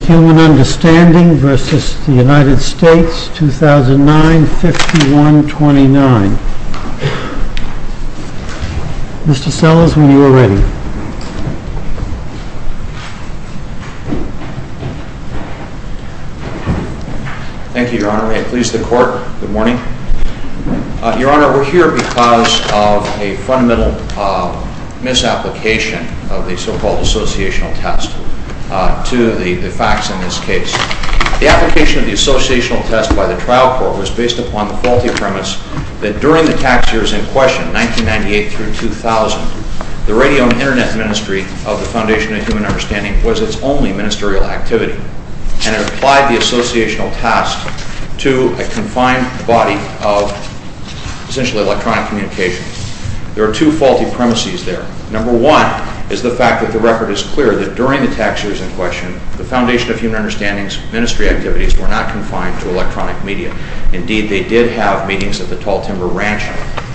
2009, 51-29. Mr. Sellers, when you are ready. Thank you, Your Honor. May it please the Court. Good morning. Your Honor, we are here because of a fundamental misapplication of the so-called associational test to the facts in this case. The application of the associational test by the trial court was based upon the faulty premise that during the tax years in question, 1998-2000, the radio and internet ministry of the Foundation of Human Understanding was its only ministerial activity, and it applied the associational test to a confined body of essentially electronic communication. There are two faulty premises there. Number one is the fact that the record is clear that during the tax years in question, the Foundation of Human Understanding's ministry activities were not confined to electronic media. Indeed, they did have meetings at the Tall Timber Ranch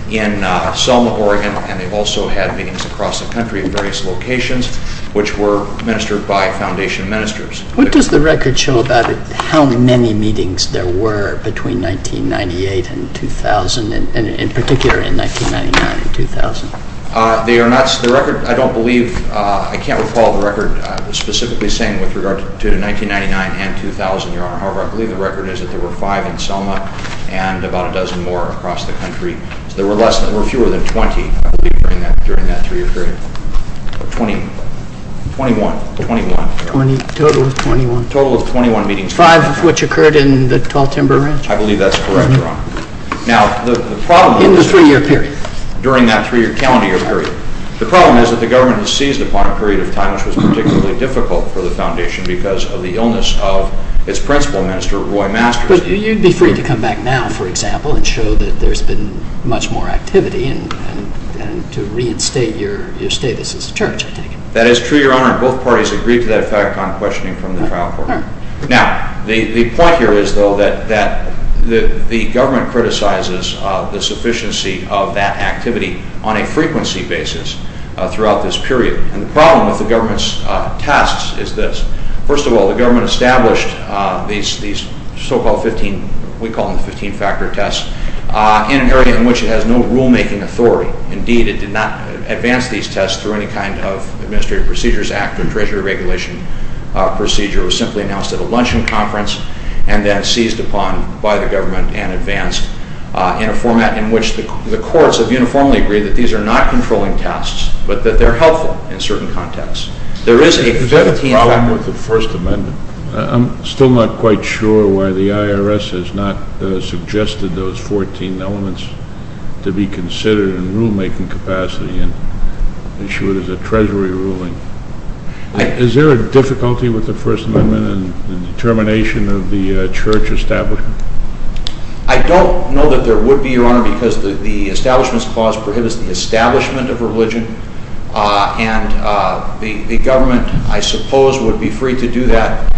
in Selma, Oregon, and they also had meetings across the country at various locations which were ministered by Foundation ministers. What does the record show about how many meetings there were between 1998 and 2000, and in particular in 1999 and 2000? The record, I don't believe... I can't recall the record specifically saying with regard to 1999 and 2000, Your Honor. However, I believe the record is that there were five in Selma and about a dozen more across the country. So there were fewer than 20, I believe, during that three-year period. Twenty-one. Twenty-one. Total of 21. Total of 21 meetings. Five of which occurred in the Tall Timber Ranch? I believe that's correct, Your Honor. In the three-year period? During that three-year calendar year period. The problem is that the government has seized upon a period of time which was particularly difficult for the Foundation because of the illness of its principal minister, Roy Masters. But you'd be free to come back now, for example, and show that there's been much more activity and to reinstate your status as a church, I take it? That is true, Your Honor. Both parties agreed to that fact on questioning from the trial court. Now, the point here is, though, that the government criticizes the sufficiency of that activity on a frequency basis throughout this period. And the problem with the government's tests is this. First of all, the government established these so-called 15... we call them 15-factor tests in an area in which it has no rulemaking authority. Indeed, it did not advance these in the Administrative Procedures Act or Treasury Regulation procedure. It was simply announced at a luncheon conference and then seized upon by the government and advanced in a format in which the courts have uniformly agreed that these are not controlling tests but that they're helpful in certain contexts. There is a 15-factor... Is there a problem with the First Amendment? I'm still not quite sure why the IRS has not suggested those 14 elements to be considered in rulemaking capacity and issue it as a Treasury ruling. Is there a difficulty with the First Amendment in the termination of the Church establishment? I don't know that there would be, Your Honor, because the Establishment Clause prohibits the establishment of religion. And the government, I suppose, would be free to do that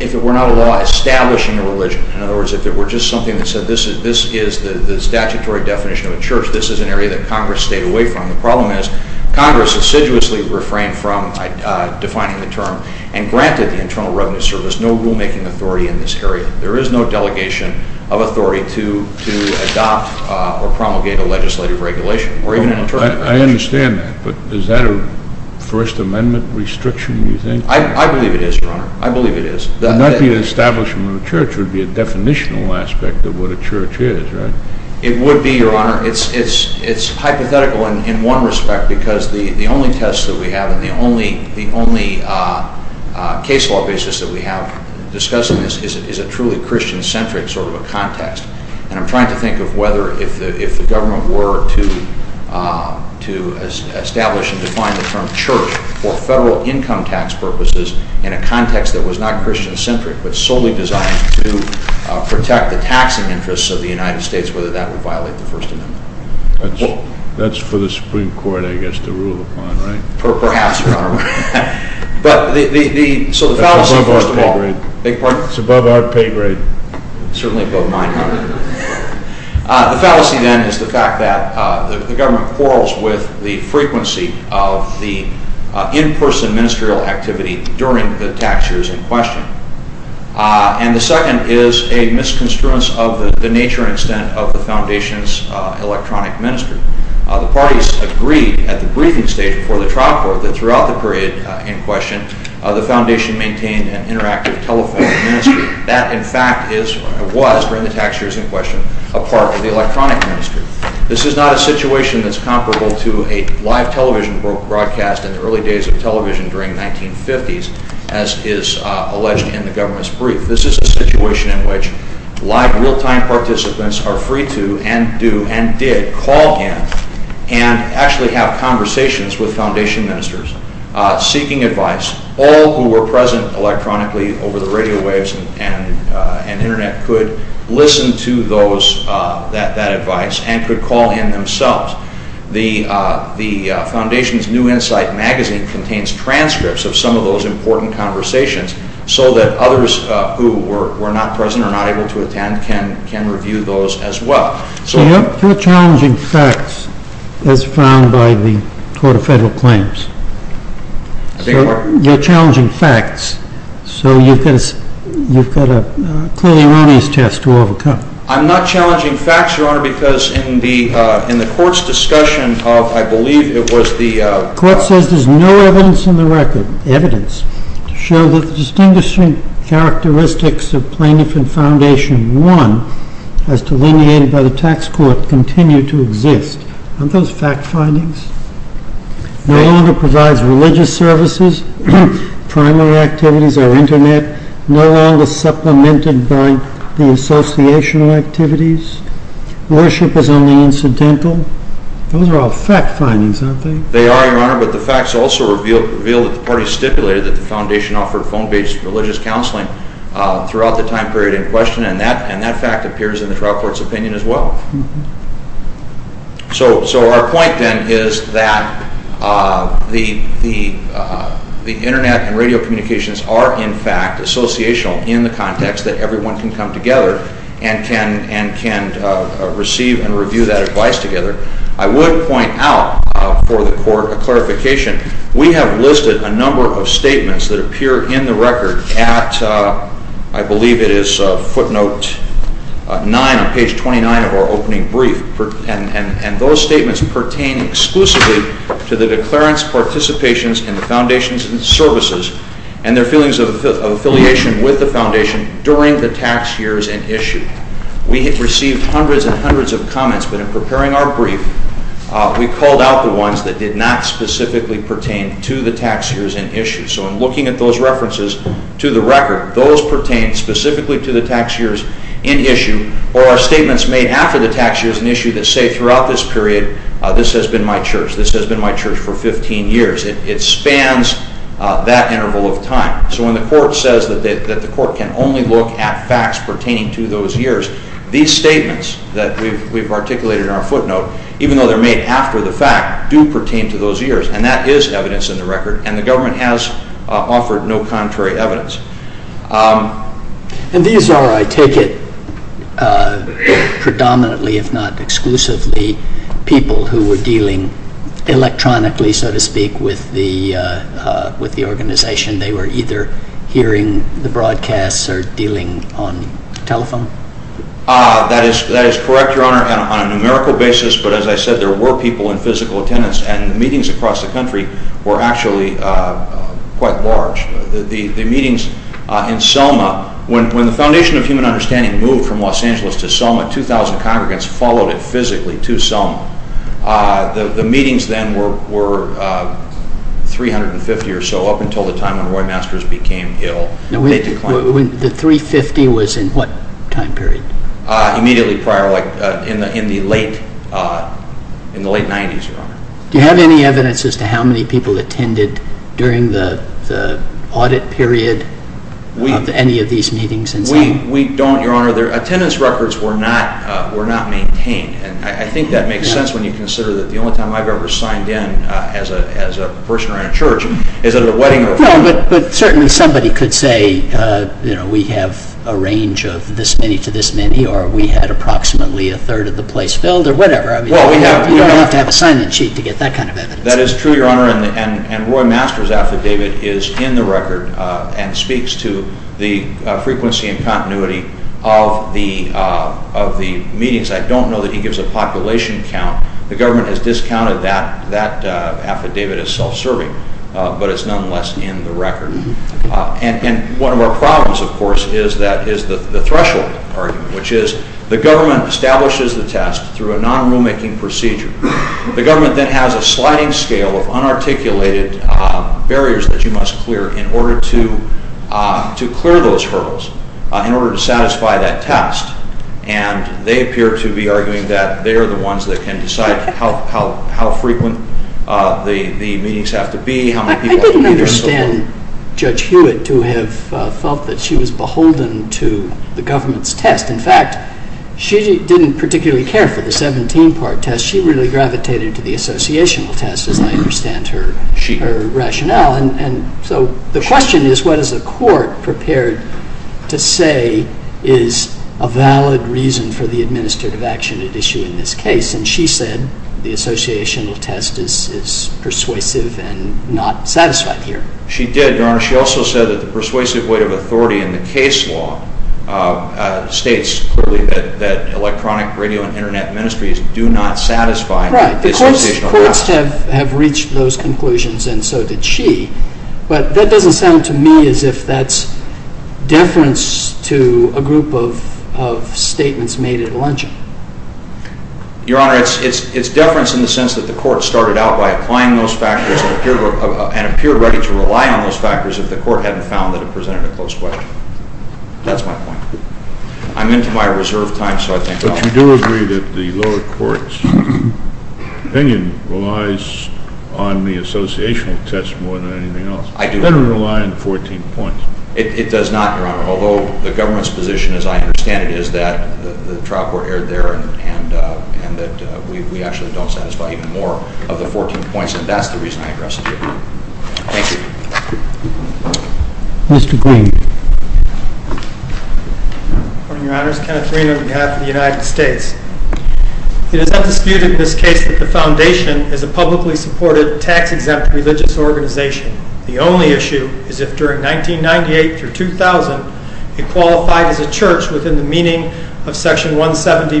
if it were not a law establishing a religion. In other words, if it were just something that the Church would be free to do, there would be no problem with the First Amendment. I understand that. This is the statutory definition of a church. This is an area that Congress stayed away from. The problem is Congress assiduously refrained from defining the term and granted the Internal Revenue Service no rulemaking authority in this area. There is no delegation of authority to adopt or promulgate a legislative regulation or even an internal regulation. I understand that. But is that a First Amendment restriction, do you think? I believe it is, Your Honor. I believe it is. It would not be an establishment of a church. It would be a definitional aspect of what a church is, right? It would be, Your Honor. It is hypothetical in one respect because the only test that we have and the only case law basis that we have discussing this is a truly Christian-centric sort of a context. And I am trying to think of whether if the government were to establish and define the term church for federal income tax purposes in a context that was not Christian-centric but solely designed to protect the taxing interests of the United States, whether that would violate the First Amendment. That is for the Supreme Court, I guess, to rule upon, right? Perhaps, Your Honor. That is above our pay grade. I beg your pardon? That is above our pay grade. Certainly above mine, Your Honor. The fallacy then is the fact that the government quarrels with the frequency of the in-person ministerial activity during the tax years in question. And the second is a misconstruence of the nature and extent of the Foundation's electronic ministry. The parties agreed at the briefing stage before the trial court that throughout the period in question, the Foundation maintained an interactive telephone ministry. That, in fact, was, during the tax years in question, a part of the electronic ministry. This is not a situation that is comparable to a live television broadcast in the early days of television during the 1950s, as is alleged in the government's brief. This is a situation in which live, real-time participants are free to, and do, and did, call in and actually have conversations with Foundation ministers, seeking advice. All who were present electronically over the radio waves and internet could listen to that advice and could call in themselves. The Foundation's New Insight magazine contains transcripts of some of those important conversations so that others who were not present or not able to attend can review those as well. Your challenging facts, as found by the Court of Federal Claims, Your challenging facts so you've got a clearly erroneous test to overcome. I'm not challenging facts, Your Honor, because in the Court's discussion of, I believe, it was the… The Court says there's no evidence in the record, evidence, to show that the distinguishing characteristics of plaintiff and Foundation 1, as delineated by the tax court, continue to exist. Aren't those fact findings? No longer provides religious services, primary activities or internet, no longer supplemented by the associational activities, worship is only incidental. Those are all fact findings, aren't they? They are, Your Honor, but the facts also reveal that the parties stipulated that the Foundation offered phone-based religious counseling throughout the time period in question, and that fact appears in the trial court's opinion as well. So our point, then, is that the internet and radio communications are, in fact, associational in the context that everyone can come together and can receive and review that advice together. I would point out for the Court a clarification. We have listed a number of statements that pertain exclusively to the declarants' participations in the Foundation's services and their feelings of affiliation with the Foundation during the tax years in issue. We have received hundreds and hundreds of comments, but in preparing our brief, we called out the ones that did not specifically pertain to the tax years in issue. So in looking at those references to the record, those pertain specifically to the tax years in issue, or our statements made after the tax years in issue that say throughout this period, this has been my church, this has been my church for 15 years. It spans that interval of time. So when the Court says that the Court can only look at facts pertaining to those years, these statements that we have articulated in our footnote, even though they are made after the fact, do pertain to those years, and that is evidence in the record, and the Government has offered no contrary evidence. And these are, I take it, predominantly, if not exclusively, people who were dealing electronically, so to speak, with the organization. They were either hearing the broadcasts or dealing on telephone? That is correct, Your Honor, on a numerical basis, but as I said, there were people in physical attendance, and meetings across the country were actually quite large. The meetings in Selma, when the Foundation of Human Understanding moved from Los Angeles to Selma, 2,000 congregants followed it physically to Selma. The meetings then were 350 or so, up until the time when Roy Masters became ill. The 350 was in what time period? Immediately prior, in the late 90s, Your Honor. Do you have any evidence as to how many people attended during the audit period of any of these meetings in Selma? We don't, Your Honor. Attendance records were not maintained, and I think that makes sense when you consider that the only time I have ever signed in as a person around a church is at a wedding or a funeral. No, but certainly somebody could say, you know, we have a range of this many to this many, or we had approximately a third of the place filled, or whatever. You don't have to have a sign-in sheet to get that kind of evidence. That is true, Your Honor, and Roy Masters' affidavit is in the record and speaks to the frequency and continuity of the meetings. I don't know that he gives a population count. The government has discounted that affidavit as self-serving, but it is nonetheless in the record. And one of our problems, of course, is the threshold argument, which is the government establishes the test through a non-rulemaking procedure. The government then has a sliding scale of unarticulated barriers that you must clear in order to clear those hurdles, in order to satisfy that test, and they appear to be arguing that they are the ones that can decide how frequent the meetings have to be, how many people have to be in the hall. I didn't understand Judge Hewitt to have felt that she was beholden to the government's test. In fact, she didn't particularly care for the 17-part test. She really gravitated to the associational test, as I understand her rationale. And so the question is, what is a court prepared to say is a valid reason for the administrative action at issue in this case? And she said the associational test is persuasive and not satisfied here. She did, Your Honor. She also said that the persuasive weight of authority in the case law states clearly that electronic, radio, and internet ministries do not satisfy the associational test. Right. The courts have reached those conclusions, and so did she. But that doesn't sound to me as if that's deference to a group of statements made at luncheon. Your Honor, it's deference in the sense that the court started out by applying those factors and appeared ready to rely on those factors if the court hadn't found that it presented a close question. That's my point. I'm into my reserve time, so I think I'll... But you do agree that the lower court's opinion relies on the associational test more than anything else. I do. It doesn't rely on the 14 points. It does not, Your Honor, although the government's position, as I understand it, is that the trial court erred there and that we actually don't satisfy even more of the 14 points, and that's the reason I addressed it here. Thank you. Mr. Green. Your Honor, Kenneth Green on behalf of the United States. It is undisputed in this case that the Foundation is a publicly supported, tax-exempt religious organization. The only issue is if during 1998 through 2000 it qualified as a church within the meaning of Section 1.1 of the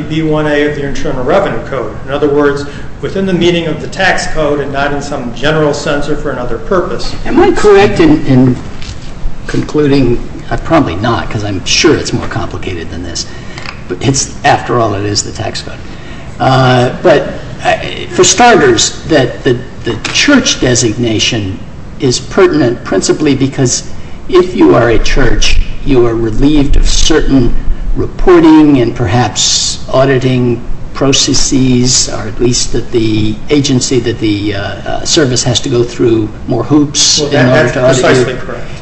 Constitution. In fact, the Church's designation is pertinent principally because if you are a church you are relieved of certain reporting and perhaps auditing processes or at least the agency that the service has to go through more hoops in order to audit you.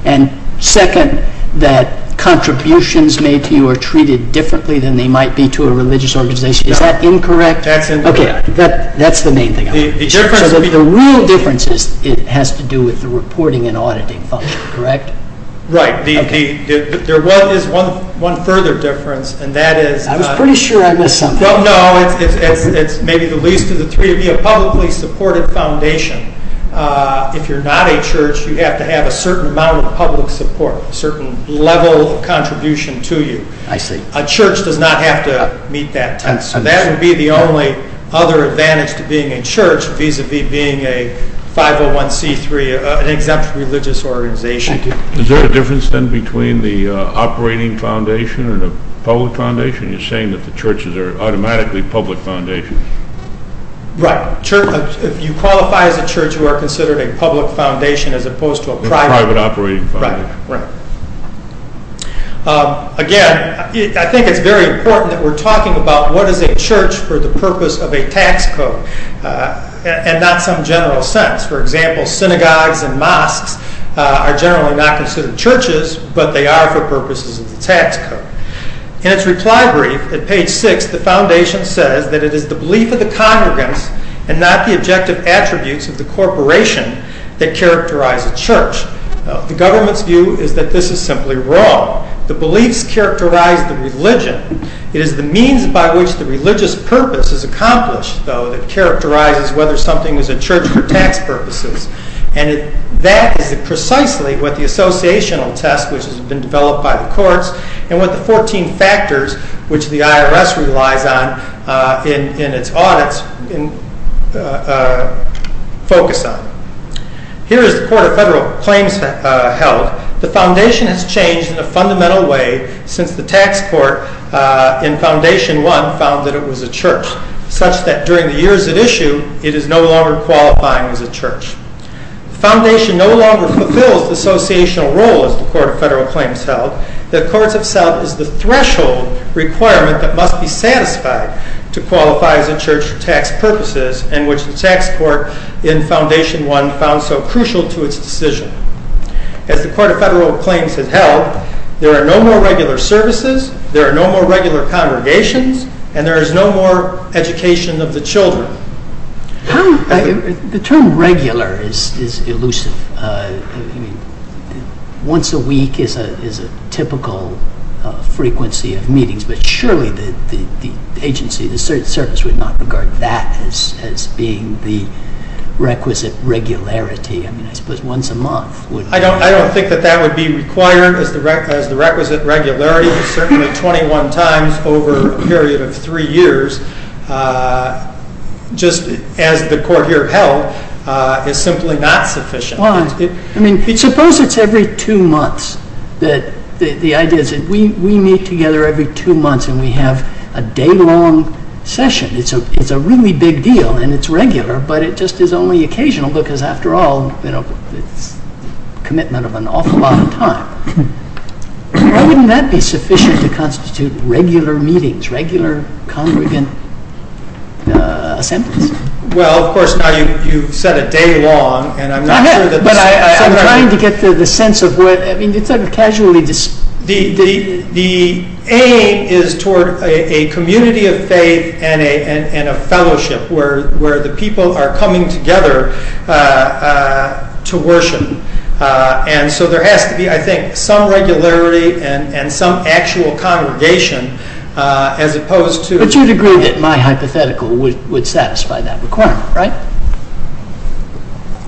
And second, that contributions made to you are treated differently than they might be to a religious organization. Is that incorrect? Okay, that's the main thing. So the real difference is that it has to do with the reporting and auditing function, correct? Right. There is one further difference and that is... I was pretty sure I missed something. No, no, it's maybe the least of the three. To be a publicly supported foundation, if you are not a church, you have to have a certain amount of public support, a certain level of contribution to you. A church does not have to meet that test. So that would be the only other advantage to being a church vis-à-vis being a 501c3, an exempt religious organization. Is there a difference then between the operating foundation and a public foundation? You're saying that the churches are automatically public foundations. Right. If you qualify as a church, you are considered a public foundation as opposed to a private... A private operating foundation. Right, right. Again, I think it's very important that we're talking about what is a church for the purpose of a tax code and not some general sense. For example, synagogues and mosques are generally not considered churches, but they are for purposes of the tax code. In its reply brief at page 6, the foundation says that it is the belief of the congregants and not the objective attributes of the corporation that characterize a church. The government's view is that this is simply wrong. The beliefs characterize the religion. It is the means by which the religious purpose is accomplished, though, that characterizes whether something is a church for tax purposes. And that is precisely what the associational test, which has been developed by the courts, and what the 14 factors, which the IRS relies on in its audits, focus on. Here is the Court of Federal Claims held. The foundation has changed in a fundamental way since the tax court in Foundation 1 found that it was a church, such that during the years at issue, it is no longer qualifying as a church. The foundation no longer fulfills the associational role, as the Court of Federal Claims held, that courts have set as the threshold requirement that must be satisfied to qualify as a church for tax purposes, and which the tax court in Foundation 1 found so crucial to its decision. As the Court of Federal Claims has held, there are no more regular services, there are no more regular congregations, and there is no more education of the children. The term regular is elusive. Once a week is a typical frequency of meetings, but surely the agency, the service, would not regard that as being the requisite regularity. I suppose once a month would... I don't think that that would be required as the requisite regularity. Certainly 21 times over a period of three years, just as the Court here held, is simply not sufficient. I mean, suppose it's every two months. The idea is that we meet together every two months and we have a day-long session. It's a really big deal, and it's regular, but it just is only occasional, because, after all, it's a commitment of an awful lot of time. Why wouldn't that be sufficient to constitute regular meetings, regular congregant assemblies? Well, of course, now you've said a day-long, and I'm not sure that... I'm trying to get the sense of what... I mean, it's a casually... The aim is toward a community of faith and a fellowship, where the people are coming together to worship. And so there has to be, I think, some regularity and some actual congregation, as opposed to... But you'd agree that my hypothetical would satisfy that requirement, right?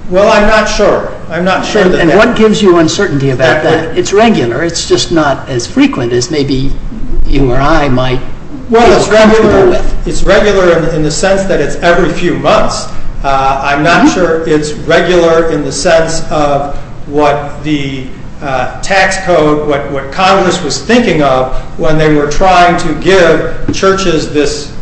Well, I'm not sure. I'm not sure that... And what gives you uncertainty about that? It's regular. It's just not as frequent as maybe you or I might be comfortable with. Well, it's regular in the sense that it's every few months. I'm not sure it's regular in the sense of what the tax code, what Congress was thinking of when they were trying to give churches this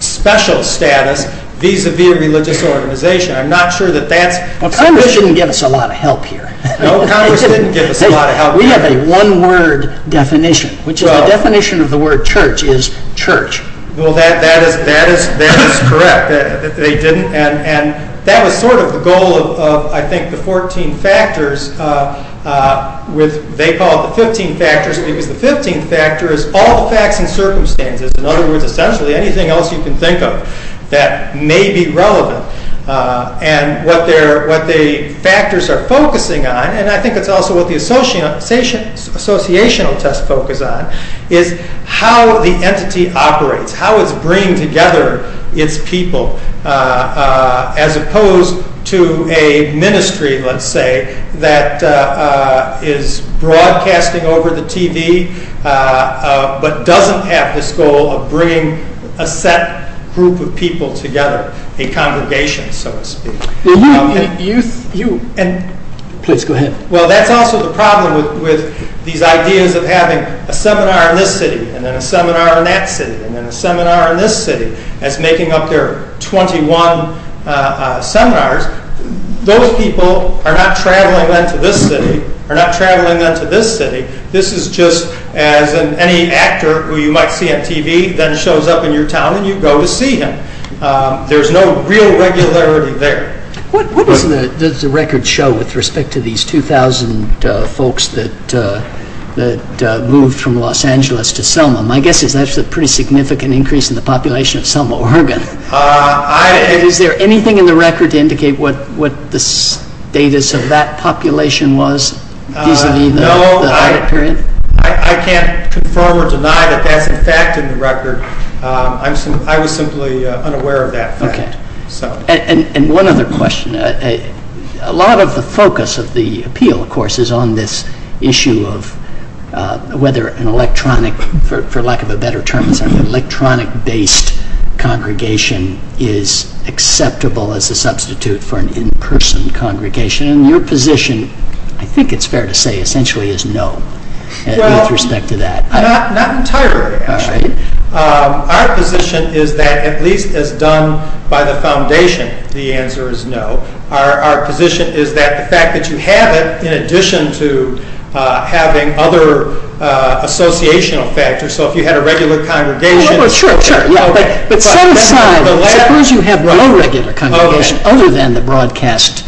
special status vis-à-vis a religious organization. I'm not sure that that's... Well, Congress didn't give us a lot of help here. No, Congress didn't give us a lot of help here. We have a one-word definition, which is the definition of the word church is church. Well, that is correct. They didn't. And that was sort of the goal of, I think, the 14 factors with... They call it the 15 factors, because the 15th factor is all the facts and circumstances. In other words, essentially, anything else you can think of that may be relevant. And what the factors are focusing on, and I think it's also what the associational tests focus on, is how the entity operates, how it's bringing together its people, as opposed to a ministry, let's say, that is broadcasting over the TV but doesn't have this goal of bringing a set group of people together, a congregation, so to speak. You... Please go ahead. Well, that's also the problem with these ideas of having a seminar in this city and then a seminar in that city and then a seminar in this city as making up their 21 seminars. Those people are not traveling then to this city, are not traveling then to this city. This is just as any actor who you might see on TV then shows up in your town and you go to see him. There's no real regularity there. What does the record show with respect to these 2,000 folks that moved from Los Angeles to Selma? My guess is that's a pretty significant increase in the population of Selma, Oregon. Is there anything in the record to indicate what the status of that population was? No, I can't confirm or deny that that's in fact in the record. I was simply unaware of that fact. Okay. And one other question. A lot of the focus of the appeal, of course, is on this issue of whether an electronic, for lack of a better term, an electronic-based congregation is acceptable as a substitute for an in-person congregation. Your position, I think it's fair to say, essentially is no with respect to that. Not entirely, actually. Our position is that at least as done by the foundation, the answer is no. Our position is that the fact that you have it in addition to having other associational factors, so if you had a regular congregation... Suppose you have no regular congregation other than the broadcast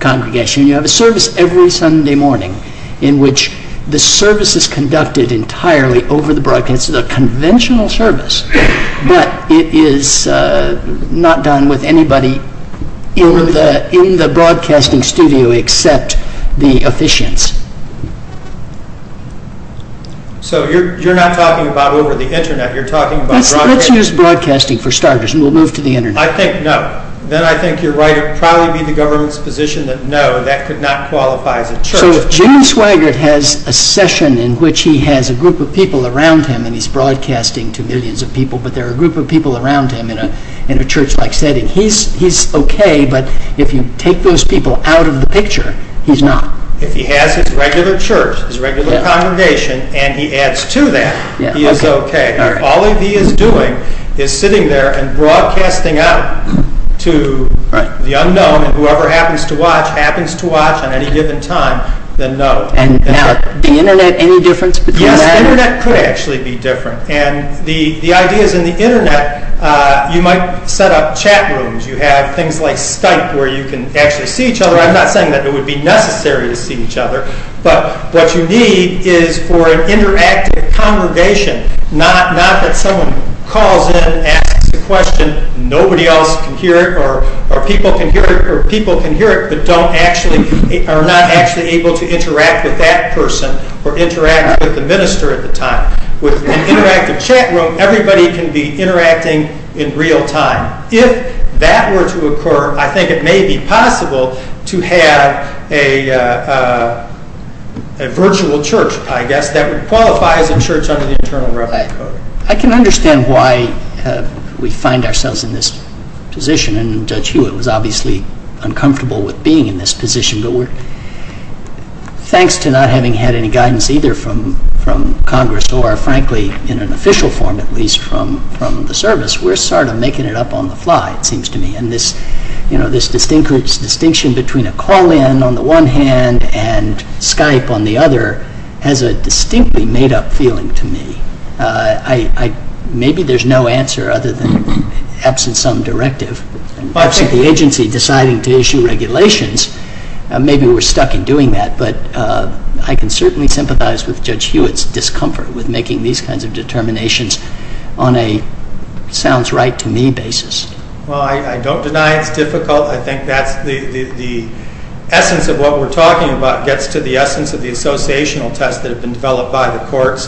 congregation. You have a service every Sunday morning in which the service is conducted entirely over the broadcast. It's a conventional service, but it is not done with anybody in the broadcasting studio except the officiants. So you're not talking about over the Internet. Let's use broadcasting for starters and we'll move to the Internet. I think no. Then I think you're right. It would probably be the government's position that no, that could not qualify as a church. So if Jim Swaggart has a session in which he has a group of people around him and he's broadcasting to millions of people, but there are a group of people around him in a church-like setting, he's okay, but if you take those people out of the picture, he's not. If he has his regular church, his regular congregation, and he adds to that, he is okay. If all he is doing is sitting there and broadcasting out to the unknown and whoever happens to watch happens to watch at any given time, then no. Now, the Internet, any difference between that? Yes, the Internet could actually be different. The idea is in the Internet you might set up chat rooms. You have things like Skype where you can actually see each other. I'm not saying that it would be necessary to see each other, but what you need is for an interactive congregation. Not that someone calls in, asks a question, nobody else can hear it, or people can hear it, but are not actually able to interact with that person or interact with the minister at the time. With an interactive chat room, everybody can be interacting in real time. Now, if that were to occur, I think it may be possible to have a virtual church, I guess, that would qualify as a church under the Internal Revenue Code. I can understand why we find ourselves in this position, and Judge Hewitt was obviously uncomfortable with being in this position, but thanks to not having had any guidance either from Congress or frankly in an official form at least from the service, we are sort of making it up on the fly, it seems to me. This distinction between a call-in on the one hand and Skype on the other has a distinctly made-up feeling to me. Maybe there is no answer other than the absence of some directive. The agency deciding to issue regulations, maybe we are stuck in doing that, but I can certainly sympathize with Judge Hewitt's discomfort with making these kinds of determinations on a sounds-right-to-me basis. Well, I don't deny it's difficult. I think that's the essence of what we're talking about gets to the essence of the associational tests that have been developed by the courts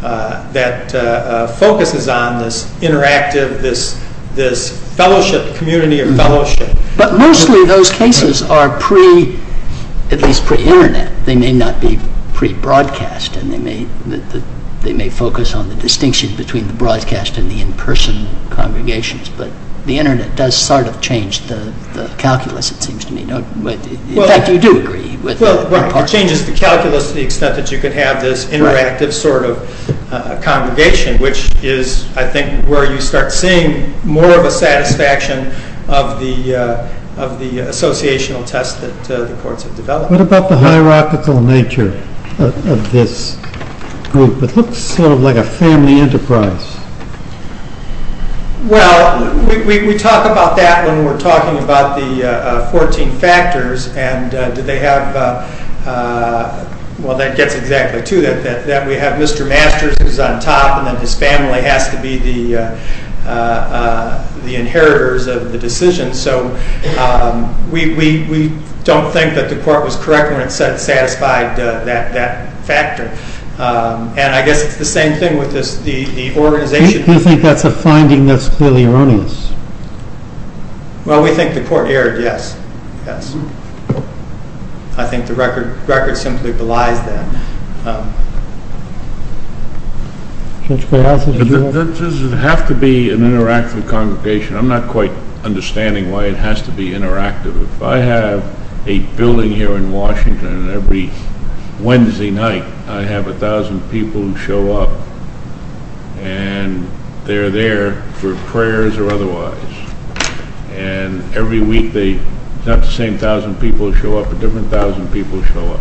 that focuses on this interactive, this fellowship, community of fellowship. But mostly those cases are at least pre-Internet. They may not be pre-broadcast and they may focus on the distinction between the broadcast and the in-person congregations, but the Internet does sort of change the calculus, it seems to me. In fact, you do agree with one part of it. It changes the calculus to the extent that you could have this interactive sort of congregation, which is, I think, where you start seeing more of a satisfaction of the associational tests that the courts have developed. What about the hierarchical nature of this group? It looks sort of like a family enterprise. Well, we talk about that when we're talking about the 14 factors, and that gets exactly to that. We have Mr. Masters who's on top, and then his family has to be the inheritors of the decision. So we don't think that the court was correct when it said it satisfied that factor. And I guess it's the same thing with the organization. You think that's a finding that's clearly erroneous? Well, we think the court erred, yes. I think the record simply belies that. Does it have to be an interactive congregation? I'm not quite understanding why it has to be interactive. If I have a building here in Washington, and every Wednesday night I have 1,000 people who show up, and they're there for prayers or otherwise, and every week not the same 1,000 people show up, but different 1,000 people show up,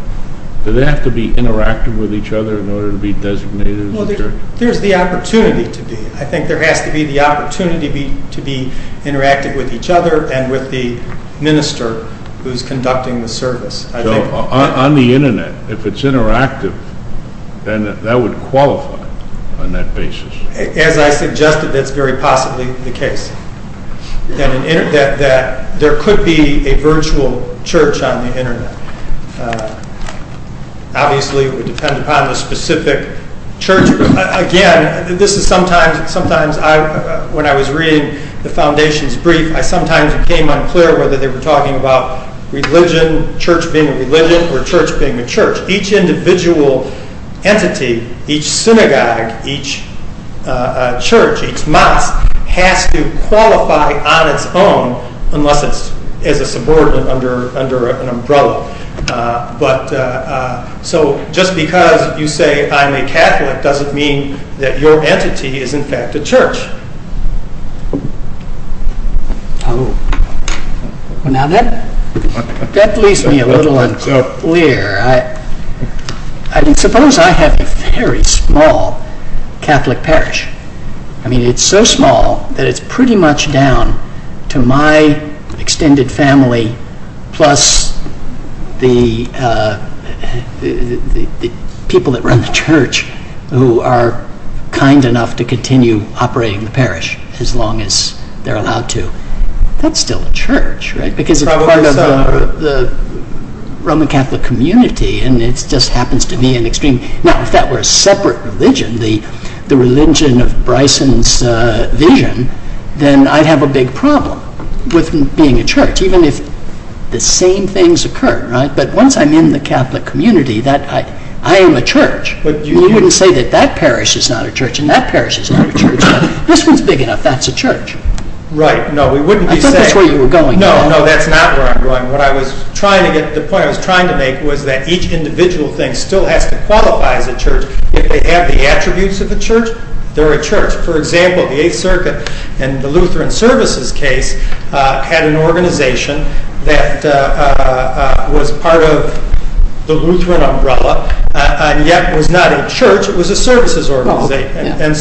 do they have to be interactive with each other in order to be designated as a church? There's the opportunity to be. I think there has to be the opportunity to be interactive with each other and with the minister who's conducting the service. So on the Internet, if it's interactive, then that would qualify on that basis? As I suggested, that's very possibly the case. There could be a virtual church on the Internet. Obviously, it would depend upon the specific church. Again, this is sometimes when I was reading the foundation's brief, I sometimes became unclear whether they were talking about religion, church being a religion, or church being a church. Each individual entity, each synagogue, each church, each mosque, has to qualify on its own unless it's as a subordinate under an umbrella. So just because you say, I'm a Catholic, doesn't mean that your entity is in fact a church. Now that leaves me a little unclear. Suppose I have a very small Catholic parish. It's so small that it's pretty much down to my extended family plus the people that run the church who are kind enough to continue operating the parish as long as they're allowed to. That's still a church, right? Because it's part of the Roman Catholic community and it just happens to be an extreme... Now, if that were a separate religion, the religion of Bryson's vision, then I'd have a big problem with being a church, even if the same things occur, right? But once I'm in the Catholic community, I am a church. You wouldn't say that that parish is not a church and that parish is not a church. This one's big enough. That's a church. Right. No, we wouldn't be saying... I thought that's where you were going. No, no, that's not where I'm going. The point I was trying to make was that each individual thing still has to qualify as a church. If they have the attributes of a church, they're a church. For example, the Eighth Circuit and the Lutheran Services case had an organization that was part of the Lutheran umbrella and yet was not a church, it was a services organization.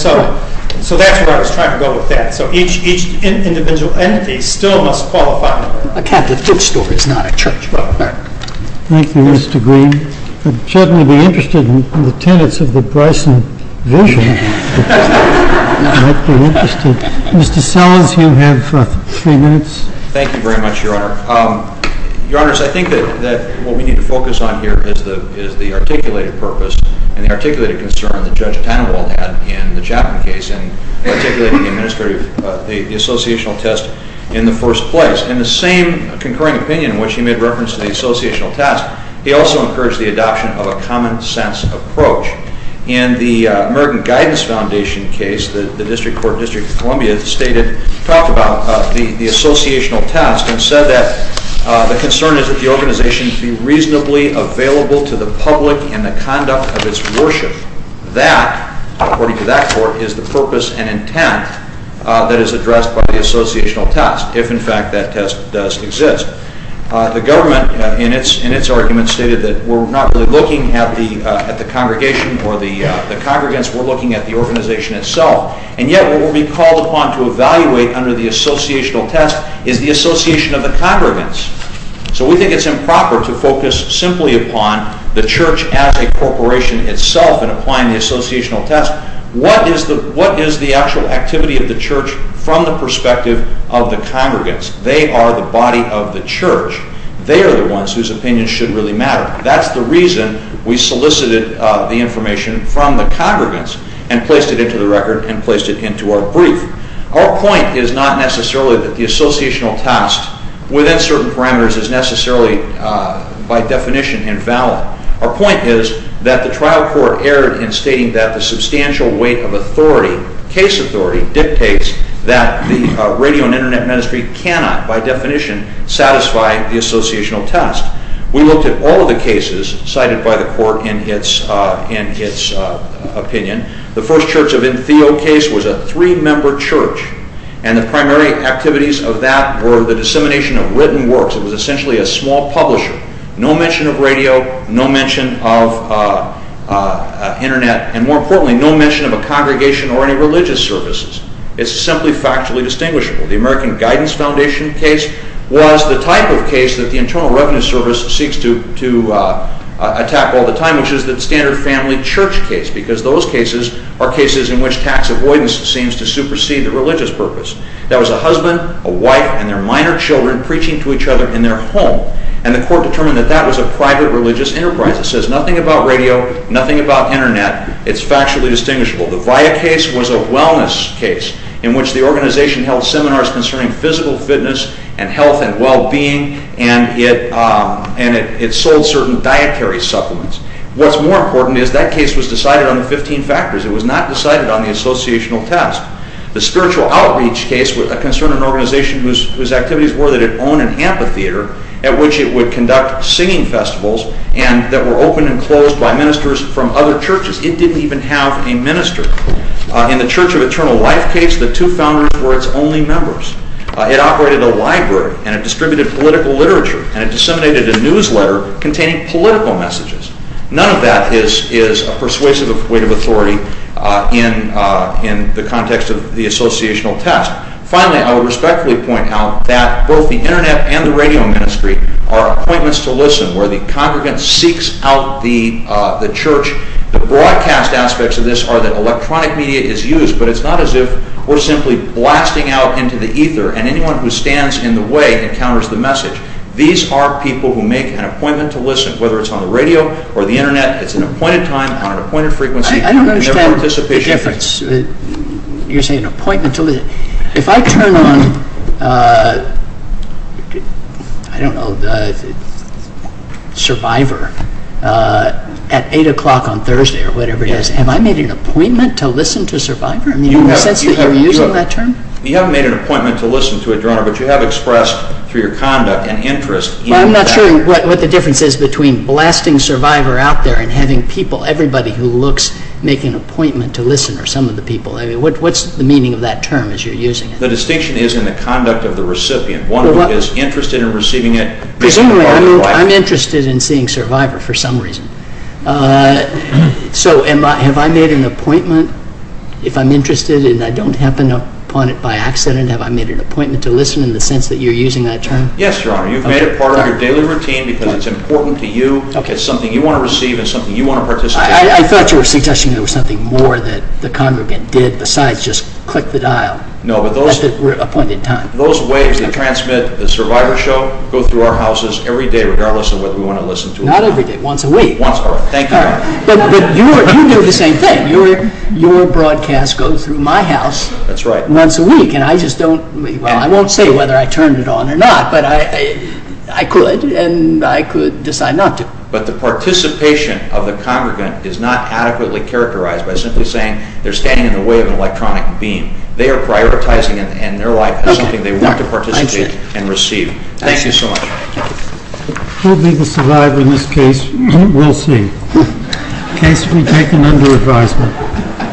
So that's where I was trying to go with that. So each individual entity still must qualify. A Catholic food store is not a church, Robert. Thank you, Mr. Green. I'd certainly be interested in the tenets of the Bryson vision. I'd be interested. Mr. Sellers, you have three minutes. Thank you very much, Your Honor. Your Honors, I think that what we need to focus on here is the articulated purpose and the articulated concern that Judge Tannenwald had in the Chapman case in articulating the associational test in the first place. In the same concurring opinion in which he made reference to the associational test, he also encouraged the adoption of a common sense approach. In the American Guidance Foundation case, the District Court of Columbia talked about the associational test and said that the concern is that the organization be reasonably available to the public in the conduct of its worship. That, according to that court, is the purpose and intent that is addressed by the associational test if, in fact, that test does exist. The government, in its argument, stated that we're not really looking at the congregation or the congregants. We're looking at the organization itself. And yet what will be called upon to evaluate under the associational test is the association of the congregants. So we think it's improper to focus simply upon the church as a corporation itself in applying the associational test. What is the actual activity of the church from the perspective of the congregants? They are the body of the church. They are the ones whose opinions should really matter. That's the reason we solicited the information from the congregants and placed it into the record and placed it into our brief. Our point is not necessarily that the associational test within certain parameters is necessarily, by definition, invalid. Our point is that the trial court erred in stating that the substantial weight of authority, case authority, dictates that the radio and Internet ministry cannot, by definition, satisfy the associational test. We looked at all of the cases cited by the court in its opinion. The first Church of Entheo case was a three-member church, and the primary activities of that were the dissemination of written works. It was essentially a small publisher. No mention of radio, no mention of Internet, and more importantly, no mention of a congregation or any religious services. It's simply factually distinguishable. The American Guidance Foundation case was the type of case that the Internal Revenue Service seeks to attack all the time, which is the standard family church case, because those cases are cases in which tax avoidance seems to supersede the religious purpose. There was a husband, a wife, and their minor children preaching to each other in their home, and the court determined that that was a private religious enterprise. It says nothing about radio, nothing about Internet. It's factually distinguishable. The VIA case was a wellness case in which the organization held seminars concerning physical fitness and health and well-being, and it sold certain dietary supplements. What's more important is that case was decided on 15 factors. It was not decided on the associational test. The spiritual outreach case was a concern of an organization whose activities were that it own an amphitheater at which it would conduct singing festivals that were open and closed by ministers from other churches. It didn't even have a minister. In the Church of Eternal Life case, the two founders were its only members. It operated a library, and it distributed political literature, and it disseminated a newsletter containing political messages. None of that is a persuasive weight of authority in the context of the associational test. Finally, I would respectfully point out that both the Internet and the radio ministry are appointments to listen where the congregant seeks out the church. The broadcast aspects of this are that electronic media is used, but it's not as if we're simply blasting out into the ether and anyone who stands in the way encounters the message. These are people who make an appointment to listen, whether it's on the radio or the Internet. It's an appointed time on an appointed frequency. I don't understand the difference. You're saying an appointment to listen. If I turn on Survivor at 8 o'clock on Thursday or whatever it is, have I made an appointment to listen to Survivor? Do you have a sense that you're using that term? You haven't made an appointment to listen to it, Your Honor, but you have expressed through your conduct an interest in that. I'm not sure what the difference is between blasting Survivor out there and having people, everybody who looks, make an appointment to listen, or some of the people. What's the meaning of that term as you're using it? The distinction is in the conduct of the recipient, one who is interested in receiving it. Presumably, I'm interested in seeing Survivor for some reason. So have I made an appointment? If I'm interested and I don't happen upon it by accident, have I made an appointment to listen in the sense that you're using that term? Yes, Your Honor. You've made it part of your daily routine because it's important to you. It's something you want to receive and something you want to participate in. I thought you were suggesting there was something more that the congregant did besides just click the dial. No, but those... At the appointed time. Those waves that transmit the Survivor show go through our houses every day regardless of whether we want to listen to it or not. Not every day, once a week. Once a week. Thank you, Your Honor. But you do the same thing. Your broadcast goes through my house once a week. That's right. And I just don't... Well, I won't say whether I turned it on or not, but I could and I could decide not to. But the participation of the congregant is not adequately characterized by simply saying they're standing in the way of an electronic beam. They are prioritizing it in their life as something they want to participate in and receive. Thank you so much. Who will be the Survivor in this case? We'll see. The case will be taken under advisement.